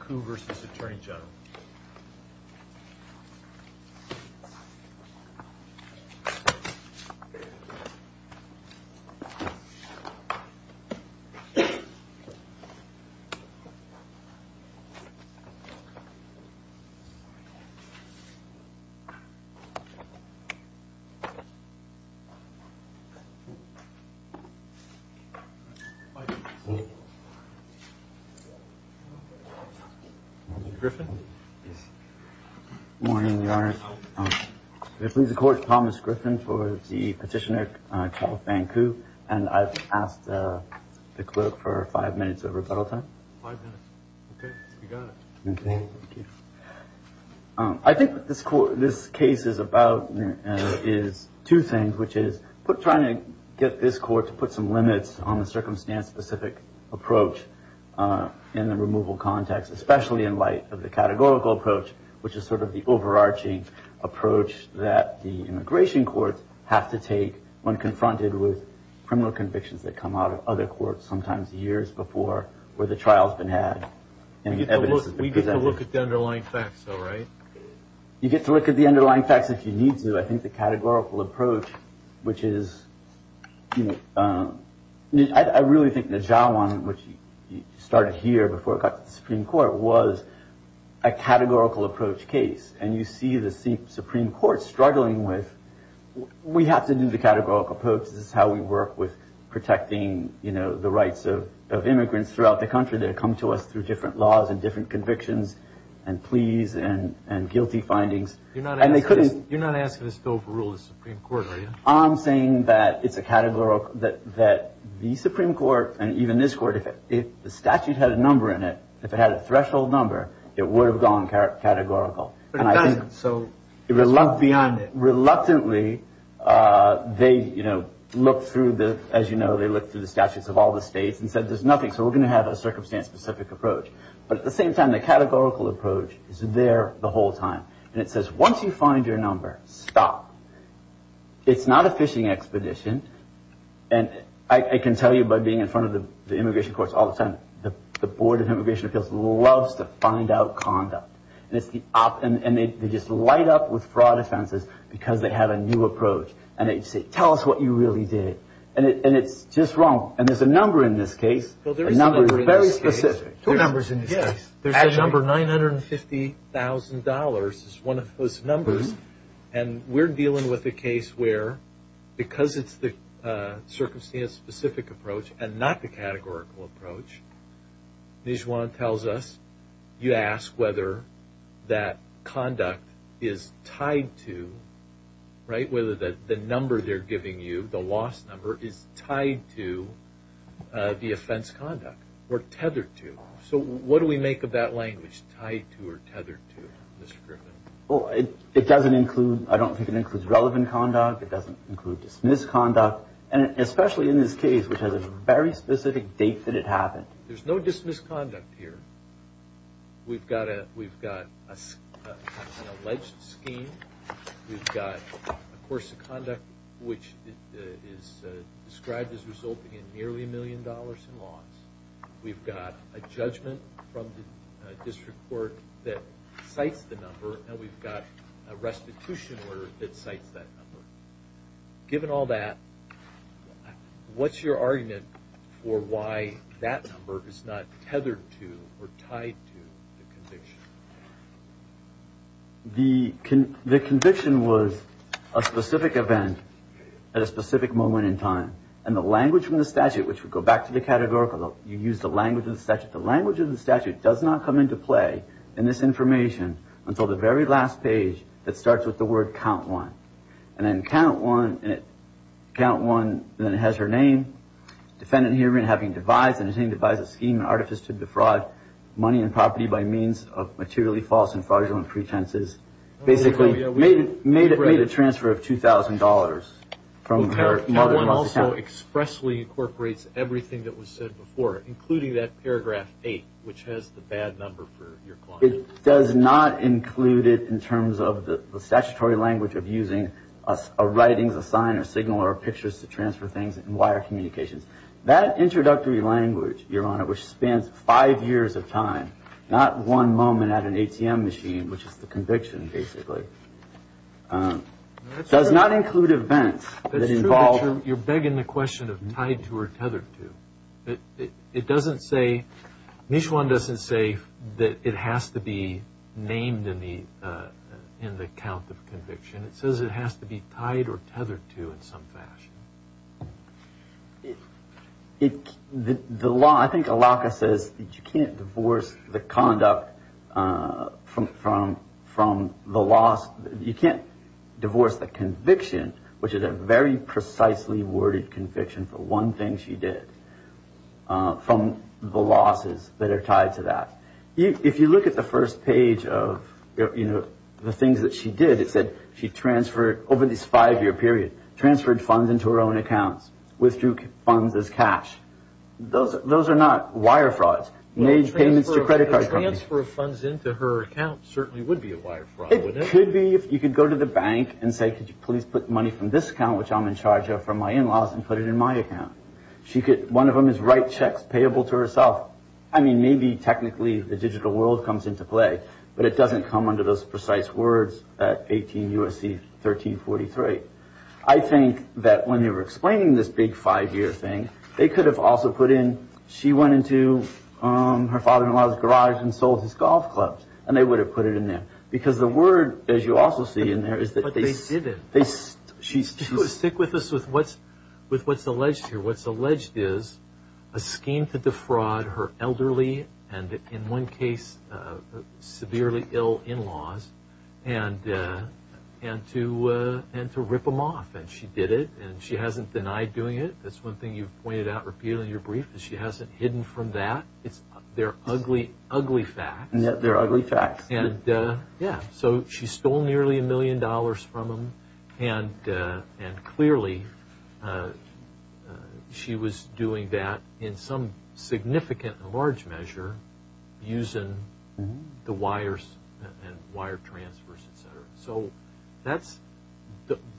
Ku v. Attorney General Good morning, Your Honor. This is Thomas Griffin for the Petitioner, Chiao Ku v. Atty General and I've asked the clerk for five minutes of rebuttal time. Five minutes. Okay, you got it. Okay, thank you. I think what this case is about is two things, which is trying to get this court to put some limits on the circumstance-specific approach in the removal context, especially in light of the categorical approach, which is sort of the overarching approach that the immigration courts have to take when confronted with criminal convictions that come out of other courts, sometimes years before where the trial's been had and the evidence has been presented. We get to look at the underlying facts, though, right? You get to look at the underlying facts if you need to. So I think the categorical approach, which is, you know, I really think the Zhawan, which started here before it got to the Supreme Court, was a categorical approach case. And you see the Supreme Court struggling with, we have to do the categorical approach. This is how we work with protecting, you know, the rights of immigrants throughout the country that come to us through different laws and different convictions and pleas and guilty findings. You're not asking us to overrule the Supreme Court, are you? I'm saying that it's a categorical, that the Supreme Court and even this court, if the statute had a number in it, if it had a threshold number, it would have gone categorical. It doesn't, so it's beyond it. Reluctantly, they, you know, looked through the, as you know, they looked through the statutes of all the states and said there's nothing, so we're going to have a circumstance-specific approach. But at the same time, the categorical approach is there the whole time. And it says once you find your number, stop. It's not a fishing expedition. And I can tell you by being in front of the immigration courts all the time, the Board of Immigration Appeals loves to find out conduct. And they just light up with fraud offenses because they have a new approach. And they say, tell us what you really did. And it's just wrong. There's a number, $950,000 is one of those numbers. And we're dealing with a case where because it's the circumstance-specific approach and not the categorical approach, Nijuan tells us, you ask whether that conduct is tied to, right, whether the number they're giving you, the loss number, is tied to the offense conduct or tethered to. So what do we make of that language, tied to or tethered to, Mr. Griffin? Well, it doesn't include, I don't think it includes relevant conduct. It doesn't include dismissed conduct. And especially in this case, which has a very specific date that it happened. There's no dismissed conduct here. We've got an alleged scheme. We've got a course of conduct which is described as resulting in nearly $1 million in loss. We've got a judgment from the district court that cites the number. And we've got a restitution order that cites that number. Given all that, what's your argument for why that number is not tethered to or tied to the conviction? The conviction was a specific event at a specific moment in time. And the language from the statute, which we go back to the categorical, you use the language of the statute. The language of the statute does not come into play in this information until the very last page that starts with the word count one. And then count one, and then it has her name. Defendant hearing having devised, and artifice to defraud money and property by means of materially false and fraudulent pretenses. Basically made a transfer of $2,000. Count one also expressly incorporates everything that was said before, including that paragraph eight, which has the bad number for your client. It does not include it in terms of the statutory language of using a writing, a sign, a signal, or pictures to transfer things and wire communications. That introductory language, Your Honor, which spans five years of time, not one moment at an ATM machine, which is the conviction basically, does not include events that involve. That's true, but you're begging the question of tied to or tethered to. It doesn't say, Mishwan doesn't say that it has to be named in the count of conviction. It says it has to be tied or tethered to in some fashion. The law, I think Alaka says that you can't divorce the conduct from the loss. You can't divorce the conviction, which is a very precisely worded conviction for one thing she did, from the losses that are tied to that. If you look at the first page of the things that she did, it said she transferred over this five-year period, transferred funds into her own accounts, withdrew funds as cash. Those are not wire frauds, made payments to credit card companies. The transfer of funds into her account certainly would be a wire fraud. It could be if you could go to the bank and say, could you please put money from this account, which I'm in charge of, from my in-laws and put it in my account. One of them is write checks payable to herself. I mean, maybe technically the digital world comes into play, but it doesn't come under those precise words at 18 U.S.C. 1343. I think that when they were explaining this big five-year thing, they could have also put in, she went into her father-in-law's garage and sold his golf clubs, and they would have put it in there. Because the word, as you also see in there, is that they- But they didn't. Stick with us with what's alleged here. A scheme to defraud her elderly, and in one case, severely ill in-laws, and to rip them off. And she did it, and she hasn't denied doing it. That's one thing you've pointed out repeatedly in your brief, is she hasn't hidden from that. They're ugly, ugly facts. They're ugly facts. Yeah. So she stole nearly a million dollars from them, and clearly she was doing that in some significant and large measure, using the wires and wire transfers, et cetera. So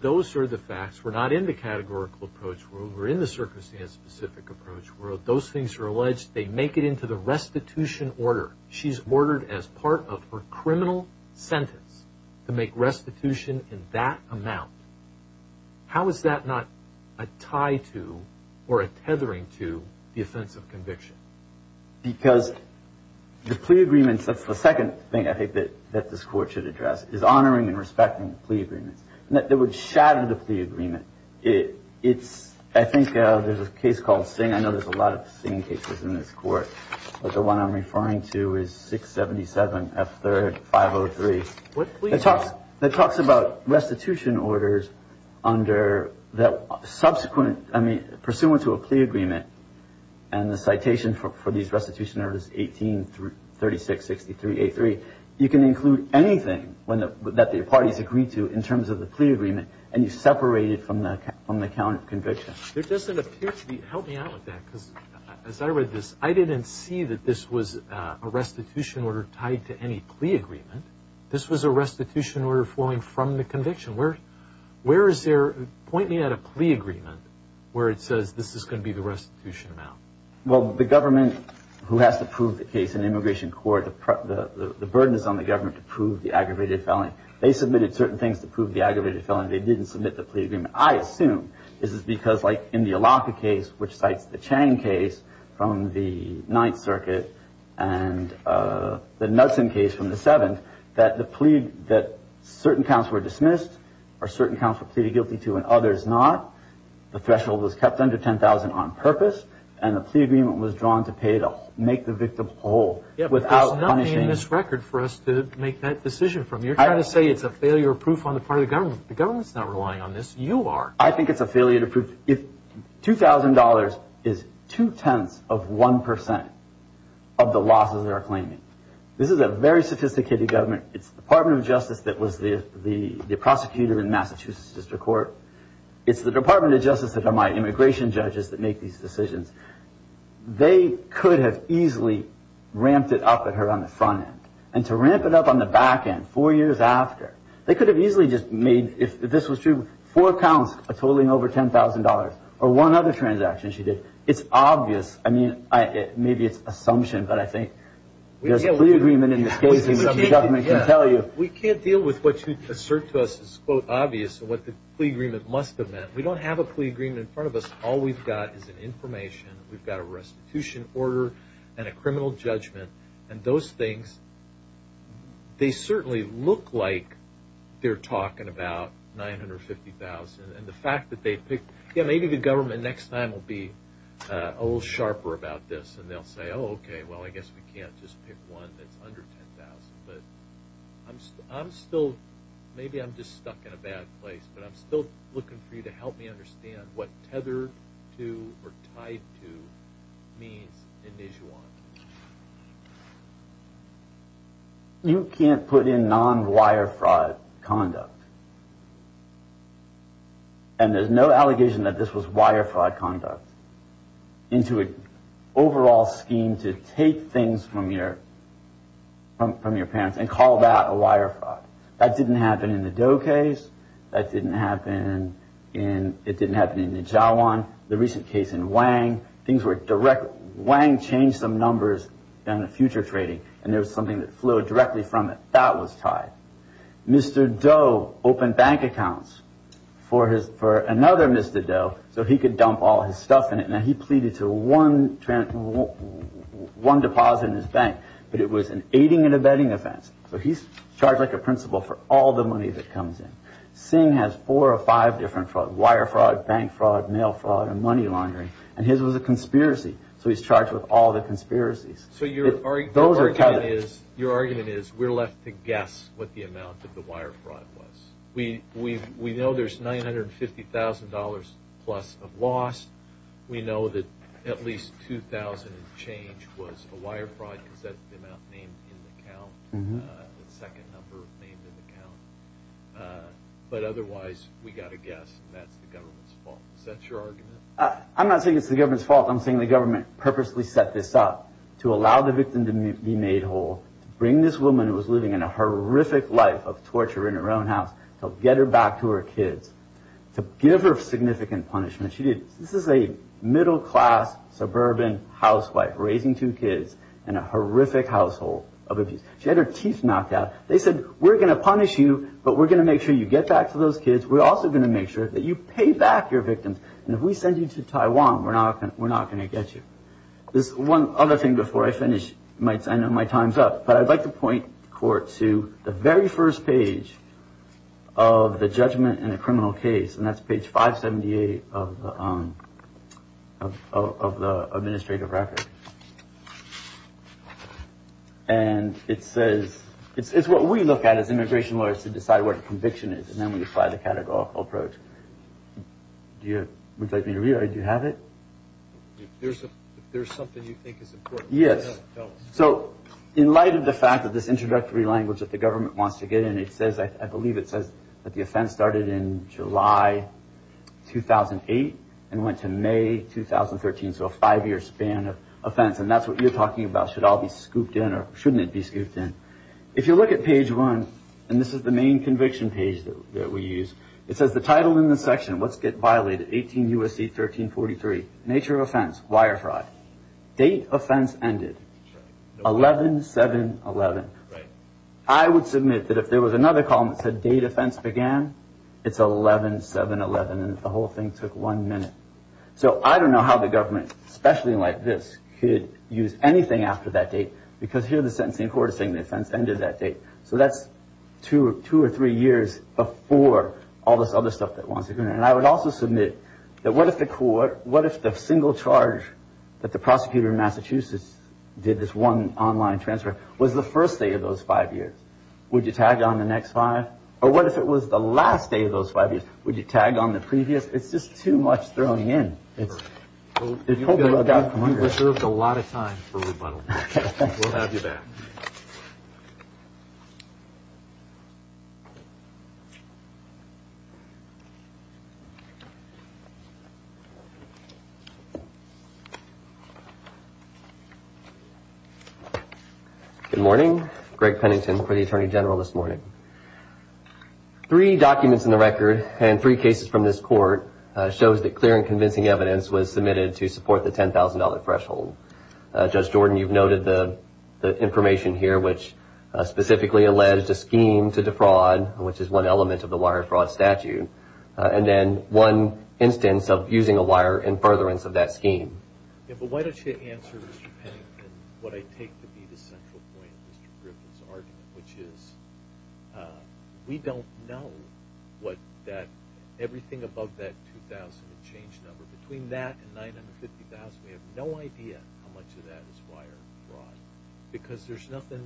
those are the facts. We're not in the categorical approach world. We're in the circumstance-specific approach world. Those things are alleged. They make it into the restitution order. She's ordered as part of her criminal sentence to make restitution in that amount. How is that not a tie to or a tethering to the offense of conviction? Because the plea agreements, that's the second thing I think that this court should address, is honoring and respecting the plea agreements. That would shatter the plea agreement. I think there's a case called Singh. I know there's a lot of Singh cases in this court. But the one I'm referring to is 677 F3rd 503. What plea agreement? It talks about restitution orders under the subsequent, I mean, pursuant to a plea agreement, and the citation for these restitution orders 1836-63-83, you can include anything that the parties agreed to in terms of the plea agreement, and you separate it from the count of conviction. There doesn't appear to be – help me out with that, because as I read this, I didn't see that this was a restitution order tied to any plea agreement. This was a restitution order flowing from the conviction. Where is there – point me at a plea agreement where it says this is going to be the restitution amount. Well, the government, who has to prove the case in immigration court, the burden is on the government to prove the aggravated felony. They submitted certain things to prove the aggravated felony. They didn't submit the plea agreement. I assume this is because, like, in the Alaka case, which cites the Chang case from the Ninth Circuit, and the Knudsen case from the Seventh, that the plea – that certain counts were dismissed or certain counts were pleaded guilty to and others not. The threshold was kept under 10,000 on purpose, and the plea agreement was drawn to make the victim whole without punishing – Yeah, but there's nothing in this record for us to make that decision from. You're trying to say it's a failure of proof on the part of the government. The government's not relying on this. You are. I think it's a failure to prove – if $2,000 is two-tenths of one percent of the losses they're claiming, this is a very sophisticated government. It's the Department of Justice that was the prosecutor in Massachusetts District Court. It's the Department of Justice that are my immigration judges that make these decisions. They could have easily ramped it up at her on the front end, and to ramp it up on the back end four years after, they could have easily just made, if this was true, four counts totaling over $10,000 or one other transaction she did. It's obvious. I mean, maybe it's assumption, but I think there's a plea agreement in this case, and the government can tell you. We can't deal with what you assert to us is, quote, obvious, and what the plea agreement must have meant. We don't have a plea agreement in front of us. All we've got is an information. We've got a restitution order and a criminal judgment, and those things, they certainly look like they're talking about $950,000, and the fact that they picked – yeah, maybe the government next time will be a little sharper about this, and they'll say, oh, okay, well, I guess we can't just pick one that's under $10,000, but I'm still – maybe I'm just stuck in a bad place, but I'm still looking for you to help me understand what tethered to or tied to means in this one. You can't put in non-wire fraud conduct, and there's no allegation that this was wire fraud conduct, into an overall scheme to take things from your parents and call that a wire fraud. That didn't happen in the Doe case. That didn't happen in – it didn't happen in the Jawan. The recent case in Wang, things were direct – Wang changed some numbers on the future trading, and there was something that flowed directly from it. That was tied. Mr. Doe opened bank accounts for another Mr. Doe, so he could dump all his stuff in it, and he pleaded to one deposit in his bank, but it was an aiding and abetting offense, so he's charged like a principal for all the money that comes in. Singh has four or five different frauds – wire fraud, bank fraud, mail fraud, and money laundering, and his was a conspiracy, so he's charged with all the conspiracies. So your argument is we're left to guess what the amount of the wire fraud was. We know there's $950,000-plus of loss. We know that at least 2,000 and change was a wire fraud because that's the amount named in the account, the second number named in the account. But otherwise, we've got to guess that's the government's fault. Is that your argument? I'm not saying it's the government's fault. I'm saying the government purposely set this up to allow the victim to be made whole, to bring this woman who was living in a horrific life of torture in her own house, to get her back to her kids, to give her significant punishment. This is a middle-class suburban housewife raising two kids in a horrific household of abuse. She had her teeth knocked out. They said, we're going to punish you, but we're going to make sure you get back to those kids. We're also going to make sure that you pay back your victims, and if we send you to Taiwan, we're not going to get you. There's one other thing before I finish. I know my time's up, but I'd like to point the court to the very first page of the judgment in a criminal case, and that's page 578 of the administrative record. And it says, it's what we look at as immigration lawyers to decide what a conviction is, and then we apply the categorical approach. Would you like me to read it? Do you have it? If there's something you think is important. Yes. So, in light of the fact that this introductory language that the government wants to get in, I believe it says that the offense started in July 2008 and went to May 2013, so a five-year span of offense, and that's what you're talking about, should all be scooped in or shouldn't it be scooped in. If you look at page one, and this is the main conviction page that we use, it says the title in the section, what's violated, 18 U.S.C. 1343, nature of offense, wire fraud, date offense ended, 11-7-11. Right. I would submit that if there was another column that said date offense began, it's 11-7-11 and the whole thing took one minute. So, I don't know how the government, especially like this, could use anything after that date, because here the sentencing court is saying the offense ended that date. So, that's two or three years before all this other stuff that wants to go in. And I would also submit that what if the court, what if the single charge that the prosecutor in Massachusetts did this one online transfer, was the first day of those five years? Would you tag on the next five? Or what if it was the last day of those five years? Would you tag on the previous? It's just too much throwing in. You've reserved a lot of time for rebuttal. We'll have you back. Good morning. Greg Pennington for the Attorney General this morning. Three documents in the record and three cases from this court shows that clear and convincing evidence was submitted to support the $10,000 threshold. Judge Jordan, you've noted the information here, which specifically alleged a scheme to defraud, which is one element of the wire fraud statute, and then one instance of using a wire in furtherance of that scheme. Yeah, but why don't you answer, Mr. Pennington, what I take to be the central point of Mr. Griffin's argument, which is we don't know everything above that $2,000 change number. Between that and $950,000, we have no idea how much of that is wire fraud because there's nothing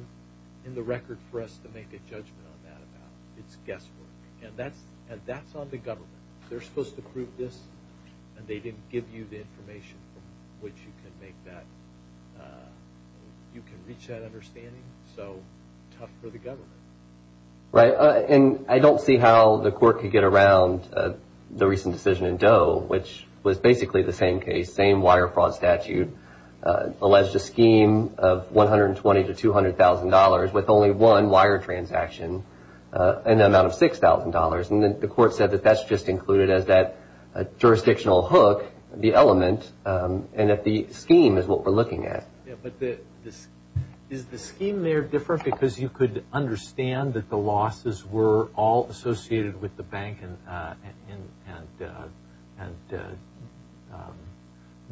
in the record for us to make a judgment on that about. It's guesswork, and that's on the government. They're supposed to prove this, and they didn't give you the information from which you can reach that understanding. So tough for the government. Right. And I don't see how the court could get around the recent decision in Doe, which was basically the same case, same wire fraud statute, alleged a scheme of $120,000 to $200,000 with only one wire transaction and an amount of $6,000. And the court said that that's just included as that jurisdictional hook, the element, and that the scheme is what we're looking at. Yeah, but is the scheme there different because you could understand that the losses were all associated with the bank and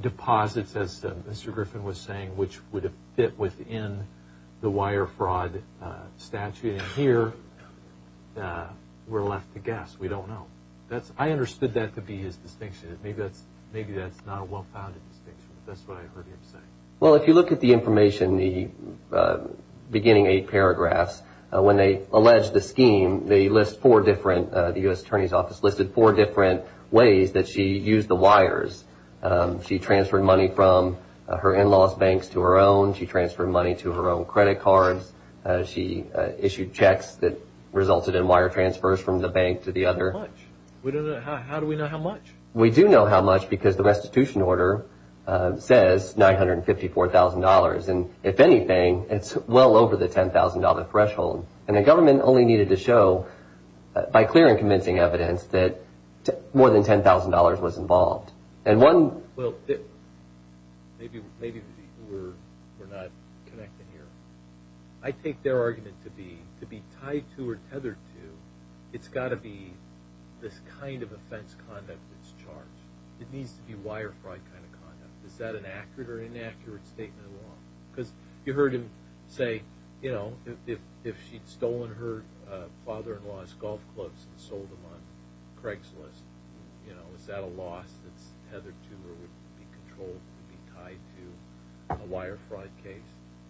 deposits, as Mr. Griffin was saying, which would have fit within the wire fraud statute, and here we're left to guess. We don't know. I understood that to be his distinction. Maybe that's not a well-founded distinction, but that's what I heard him say. Well, if you look at the information in the beginning eight paragraphs, when they allege the scheme, they list four different, the U.S. Attorney's Office listed four different ways that she used the wires. She transferred money from her in-laws' banks to her own. She transferred money to her own credit cards. She issued checks that resulted in wire transfers from the bank to the other. How do we know how much? We do know how much because the restitution order says $954,000, and if anything, it's well over the $10,000 threshold, and the government only needed to show, by clear and convincing evidence, that more than $10,000 was involved. Well, maybe the people were not connected here. I take their argument to be, to be tied to or tethered to, it's got to be this kind of offense conduct that's charged. It needs to be wire fraud kind of conduct. Is that an accurate or inaccurate statement of law? Because you heard him say, you know, if she'd stolen her father-in-law's golf clubs and sold them on Craigslist, you know, is that a loss that's tethered to or would be controlled to be tied to a wire fraud case?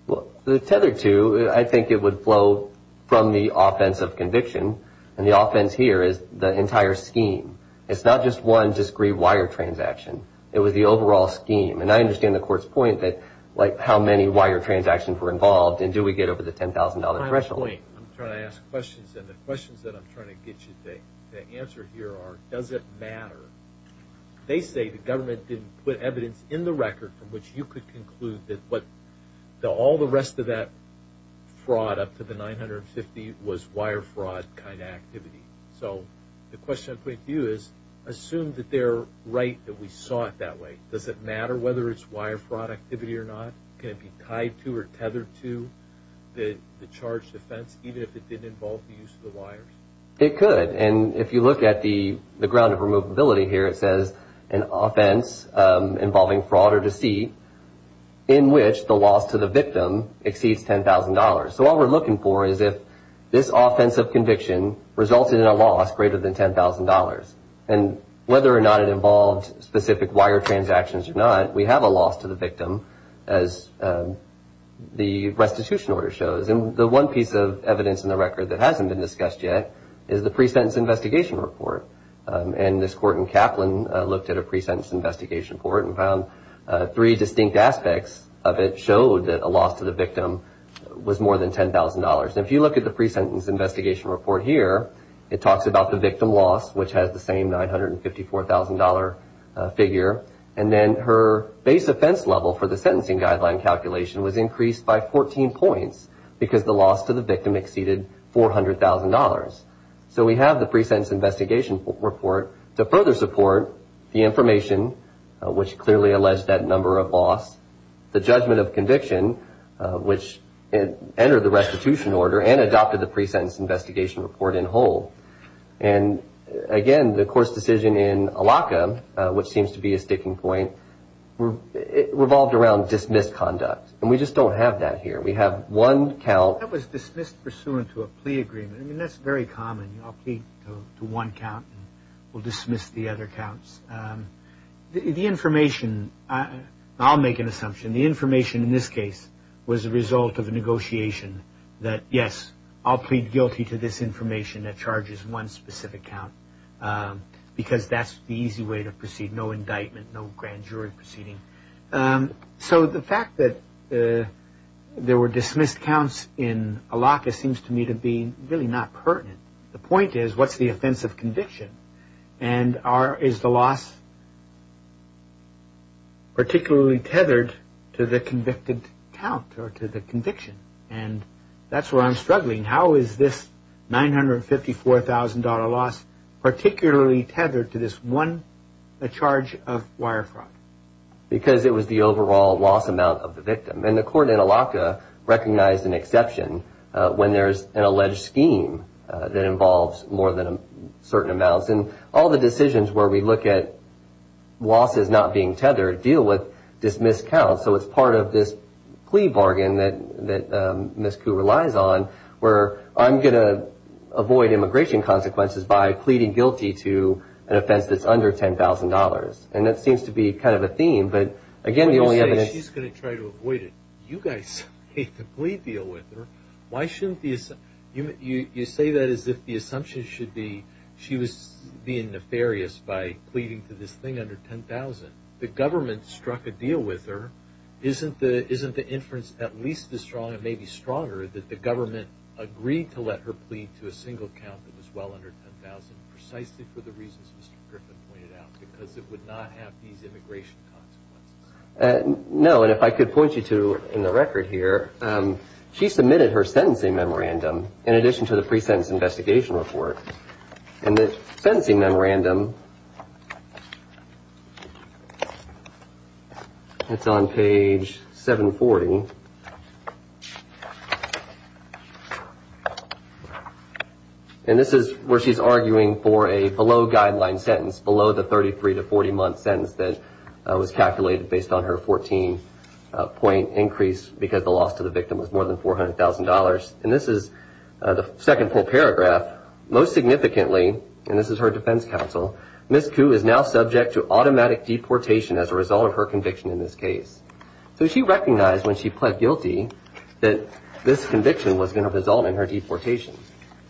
Well, tethered to, I think it would flow from the offense of conviction, and the offense here is the entire scheme. It's not just one discreet wire transaction. It was the overall scheme, and I understand the court's point that, like, how many wire transactions were involved, and do we get over the $10,000 threshold? My point, I'm trying to ask questions, and the questions that I'm trying to get you to answer here are, does it matter? They say the government didn't put evidence in the record from which you could conclude that all the rest of that fraud up to the $950 was wire fraud kind of activity. So the question I'm putting to you is, assume that they're right that we saw it that way. Does it matter whether it's wire fraud activity or not? Can it be tied to or tethered to the charged offense, even if it didn't involve the use of the wires? It could, and if you look at the ground of removability here, it says an offense involving fraud or deceit in which the loss to the victim exceeds $10,000. So all we're looking for is if this offense of conviction resulted in a loss greater than $10,000, and whether or not it involved specific wire transactions or not, we have a loss to the victim, as the restitution order shows. And the one piece of evidence in the record that hasn't been discussed yet is the pre-sentence investigation report, and this court in Kaplan looked at a pre-sentence investigation report and found three distinct aspects of it showed that a loss to the victim was more than $10,000. And if you look at the pre-sentence investigation report here, it talks about the victim loss, which has the same $954,000 figure, and then her base offense level for the sentencing guideline calculation was increased by 14 points because the loss to the victim exceeded $400,000. So we have the pre-sentence investigation report to further support the information, which clearly alleged that number of loss, the judgment of conviction, which entered the restitution order and adopted the pre-sentence investigation report in whole. And again, the court's decision in Allocca, which seems to be a sticking point, revolved around dismissed conduct, and we just don't have that here. We have one count. That was dismissed pursuant to a plea agreement. I mean, that's very common. I'll plead to one count and we'll dismiss the other counts. The information, I'll make an assumption, the information in this case was a result of a negotiation that, yes, I'll plead guilty to this information that charges one specific count because that's the easy way to proceed. No indictment, no grand jury proceeding. So the fact that there were dismissed counts in Allocca seems to me to be really not pertinent. The point is what's the offense of conviction and is the loss particularly tethered to the convicted count or to the conviction? And that's where I'm struggling. How is this $954,000 loss particularly tethered to this one charge of wire fraud? Because it was the overall loss amount of the victim. And the court in Allocca recognized an exception when there's an alleged scheme that involves more than a certain amount. And all the decisions where we look at losses not being tethered deal with dismissed counts. So it's part of this plea bargain that Ms. Koo relies on where I'm going to avoid immigration consequences by pleading guilty to an offense that's under $10,000. And that seems to be kind of a theme, but again, the only evidence... You say she's going to try to avoid it. You guys made the plea deal with her. Why shouldn't the... You say that as if the assumption should be she was being nefarious by pleading for this thing under $10,000. The government struck a deal with her. Isn't the inference at least as strong, maybe stronger, that the government agreed to let her plead to a single count that was well under $10,000 precisely for the reasons Mr. Griffin pointed out? Because it would not have these immigration consequences. No, and if I could point you to in the record here, she submitted her sentencing memorandum in addition to the pre-sentence investigation report. And the sentencing memorandum... It's on page 740. And this is where she's arguing for a below-guideline sentence, below the 33-to-40-month sentence that was calculated based on her 14-point increase because the loss to the victim was more than $400,000. And this is the second full paragraph. Most significantly, and this is her defense counsel, Ms. Koo is now subject to automatic deportation as a result of her conviction in this case. So she recognized when she pled guilty that this conviction was going to result in her deportation.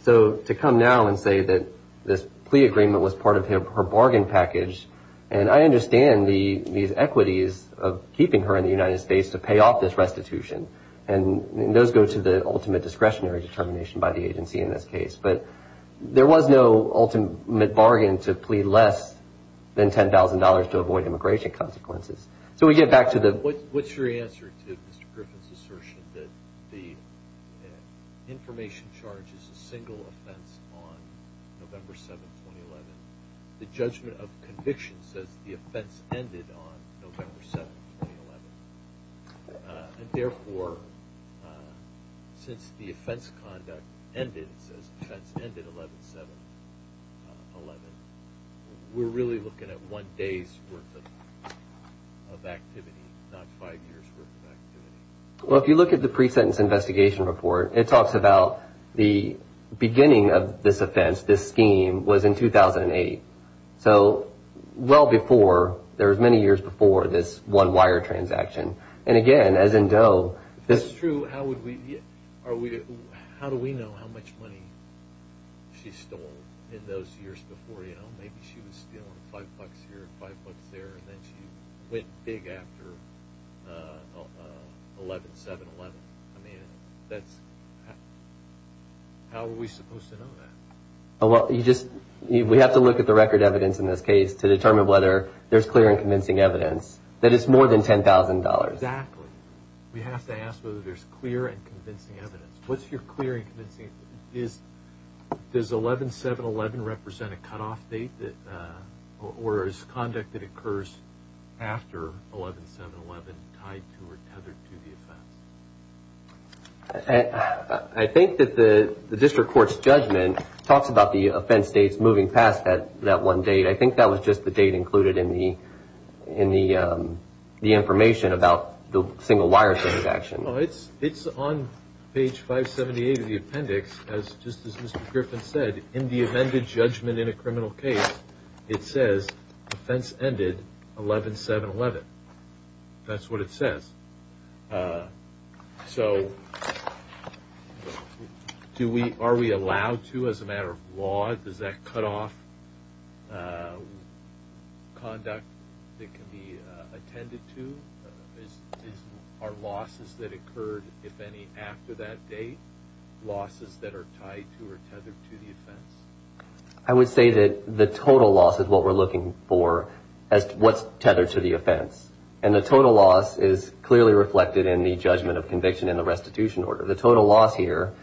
So to come now and say that this plea agreement was part of her bargain package, and I understand these equities of keeping her in the United States to pay off this restitution. And those go to the ultimate discretionary determination by the agency in this case. But there was no ultimate bargain to plead less than $10,000 to avoid immigration consequences. So we get back to the... What's your answer to Mr. Griffin's assertion that the information charge is a single offense on November 7, 2011? The judgment of conviction says the offense ended on November 7, 2011. And therefore, since the offense conduct ended, it says offense ended 11-7-11, we're really looking at one day's worth of activity, not five years' worth of activity. Well, if you look at the pre-sentence investigation report, it talks about the beginning of this offense, this scheme, was in 2008. So well before, there was many years before this one wire transaction. And again, as in Doe... If this is true, how do we know how much money she stole in those years before? Maybe she was stealing five bucks here, five bucks there, and then she went big after 11-7-11. I mean, how are we supposed to know that? We have to look at the record evidence in this case to determine whether there's clear and convincing evidence, that it's more than $10,000. Exactly. We have to ask whether there's clear and convincing evidence. What's your clear and convincing evidence? Does 11-7-11 represent a cutoff date or is conduct that occurs after 11-7-11 tied to or tethered to the offense? I think that the district court's judgment talks about the offense dates moving past that one date. I think that was just the date included in the information about the single wire transaction. It's on page 578 of the appendix. Just as Mr. Griffin said, in the amended judgment in a criminal case, it says offense ended 11-7-11. That's what it says. So are we allowed to, as a matter of law, does that cutoff conduct that can be attended to? Are losses that occurred, if any, after that date losses that are tied to or tethered to the offense? I would say that the total loss is what we're looking for as to what's tethered to the offense. And the total loss is clearly reflected in the judgment of conviction in the restitution order. The total loss here,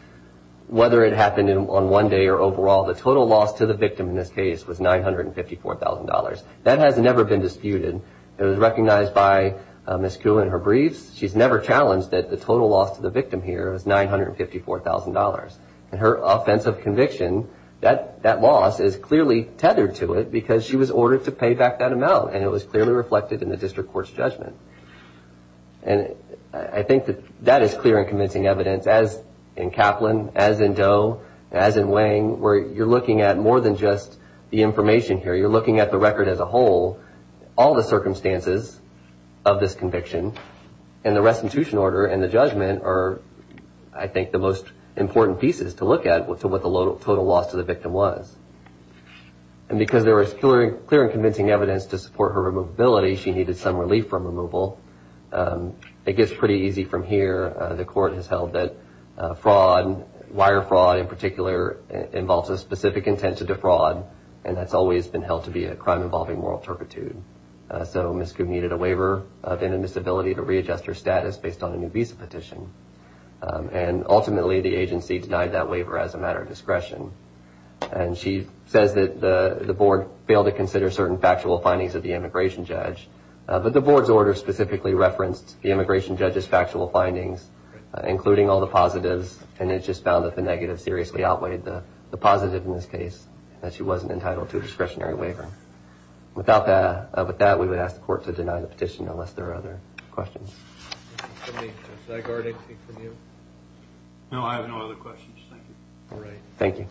whether it happened on one day or overall, the total loss to the victim in this case was $954,000. That has never been disputed. It was recognized by Ms. Kuhl in her briefs. She's never challenged that the total loss to the victim here is $954,000. In her offense of conviction, that loss is clearly tethered to it because she was ordered to pay back that amount, and it was clearly reflected in the district court's judgment. And I think that that is clear and convincing evidence, as in Kaplan, as in Doe, as in Wang, where you're looking at more than just the information here. You're looking at the record as a whole, all the circumstances of this conviction, and the restitution order and the judgment are, I think, the most important pieces to look at as to what the total loss to the victim was. And because there was clear and convincing evidence to support her removability, she needed some relief from removal. It gets pretty easy from here. The court has held that wire fraud, in particular, involves a specific intent to defraud, and that's always been held to be a crime involving moral turpitude. So Ms. Kuh needed a waiver of inadmissibility to readjust her status based on a new visa petition, and ultimately the agency denied that waiver as a matter of discretion. And she says that the board failed to consider certain factual findings of the immigration judge, but the board's order specifically referenced the immigration judge's factual findings, including all the positives, and it just found that the negatives seriously outweighed the positives in this case, that she wasn't entitled to a discretionary waiver. Without that, we would ask the court to deny the petition unless there are other questions. Mr. Kennedy, should I guard anything from you? No, I have no other questions. Thank you. All right. Thank you.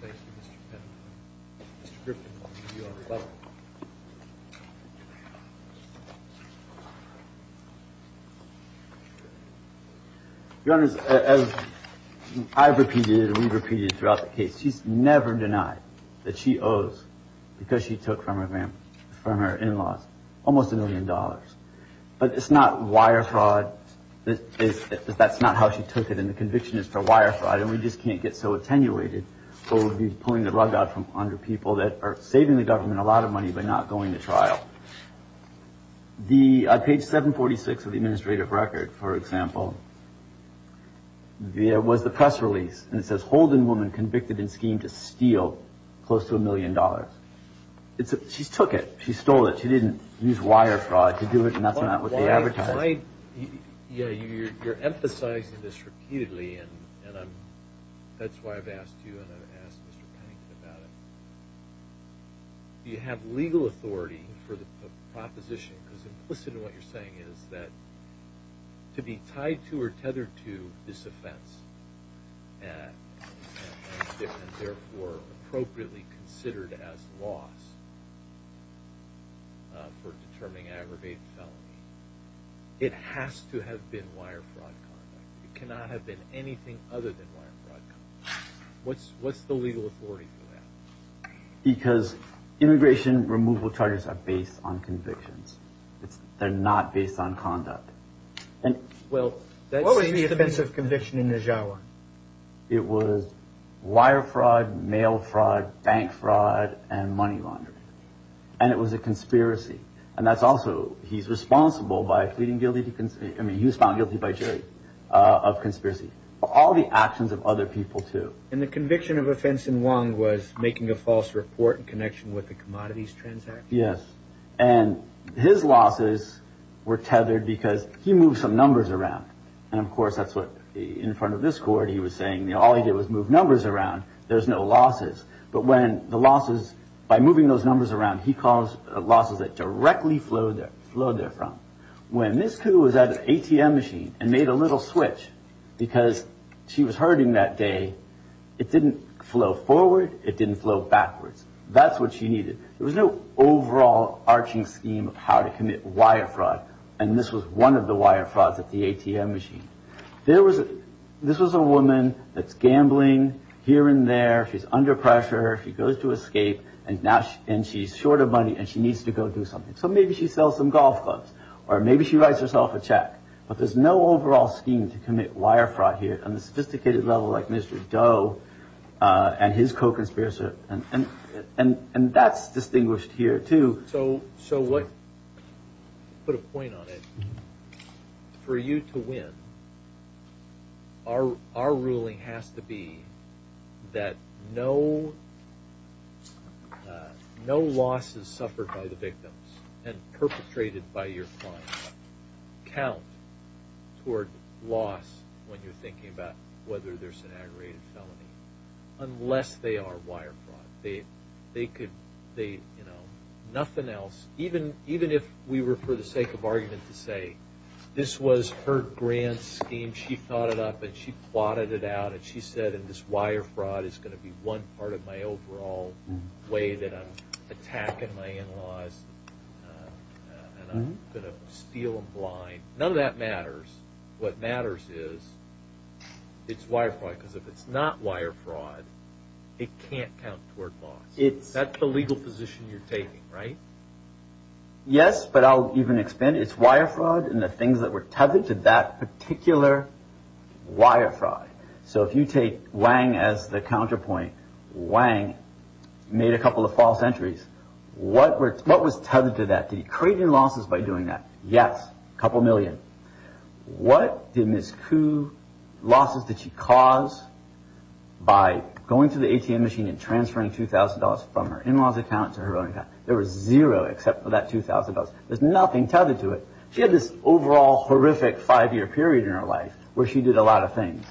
Thank you, Mr. Pettit. Mr. Griffin, if you'd be so kind. Your Honor, as I've repeated and we've repeated throughout the case, she's never denied that she owes, because she took from her in-laws, almost a million dollars. But it's not wire fraud. That's not how she took it, and the conviction is for wire fraud. And we just can't get so attenuated, or we'll be pulling the rug out from under people that are saving the government a lot of money by not going to trial. On page 746 of the administrative record, for example, there was the press release, and it says, Holden woman convicted in scheme to steal close to a million dollars. She took it. She stole it. She didn't use wire fraud to do it, and that's not what they advertised. Yeah, you're emphasizing this repeatedly, and that's why I've asked you, and I've asked Mr. Pennington about it. Do you have legal authority for the proposition? Because implicit in what you're saying is that to be tied to or tethered to this offense, and therefore appropriately considered as loss for determining aggravated felony, it has to have been wire fraud conduct. It cannot have been anything other than wire fraud conduct. What's the legal authority for that? Because immigration removal charges are based on convictions. They're not based on conduct. Well, what was the offense of conviction in Nijawa? It was wire fraud, mail fraud, bank fraud, and money laundering, and it was a conspiracy. And that's also, he's responsible by pleading guilty to, I mean, he was found guilty by jury of conspiracy. All the actions of other people, too. And the conviction of offense in Wong was making a false report in connection with the commodities transaction? Yes, and his losses were tethered because he moved some numbers around. And, of course, that's what in front of this court he was saying. All he did was move numbers around. There's no losses. But when the losses, by moving those numbers around, he caused losses that directly flowed there from. When Ms. Ku was at an ATM machine and made a little switch because she was hurting that day, it didn't flow forward. It didn't flow backwards. That's what she needed. There was no overall arching scheme of how to commit wire fraud. And this was one of the wire frauds at the ATM machine. There was, this was a woman that's gambling here and there. She's under pressure. She goes to escape. And now, and she's short of money and she needs to go do something. So maybe she sells some golf clubs or maybe she writes herself a check. But there's no overall scheme to commit wire fraud here on a sophisticated level like Mr. Doe and his co-conspirator. And that's distinguished here, too. So what, to put a point on it, for you to win, our ruling has to be that no losses suffered by the victims and perpetrated by your client count toward loss when you're thinking about whether there's an aggravated felony, unless they are wire fraud. They could, you know, nothing else, even if we were for the sake of argument to say this was her grand scheme. She thought it up and she plotted it out and she said, and this wire fraud is going to be one part of my overall way that I'm attacking my in-laws and I'm going to steal them blind. None of that matters. What matters is it's wire fraud, because if it's not wire fraud, it can't count toward loss. That's the legal position you're taking, right? Yes, but I'll even expand. It's wire fraud and the things that were tethered to that particular wire fraud. So if you take Wang as the counterpoint, Wang made a couple of false entries. What was tethered to that? Did he create any losses by doing that? Yes, a couple million. What did Ms. Ku, losses did she cause by going to the ATM machine and transferring $2,000 from her in-laws account to her own account? There was zero except for that $2,000. There's nothing tethered to it. She had this overall horrific five-year period in her life where she did a lot of things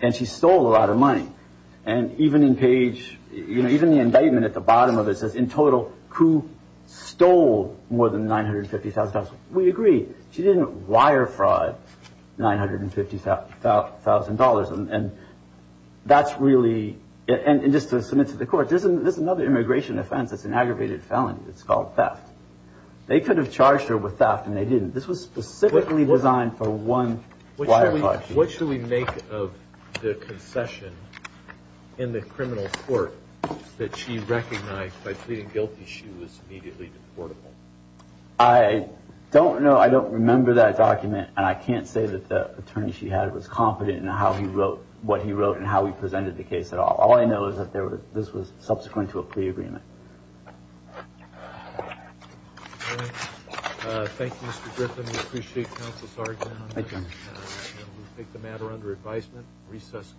and she stole a lot of money. Even the indictment at the bottom of it says, in total, Ku stole more than $950,000. We agree. She didn't wire fraud $950,000. Just to submit to the court, this is another immigration offense. It's an aggravated felony. It's called theft. They could have charged her with theft and they didn't. This was specifically designed for one wire fraud. What should we make of the concession in the criminal court that she recognized by pleading guilty she was immediately deportable? I don't know. I don't remember that document. And I can't say that the attorney she had was confident in how he wrote what he wrote and how he presented the case at all. All I know is that this was subsequent to a plea agreement. Thank you, Mr. Griffin. We appreciate counsel's argument. We take the matter under advisement. Recess.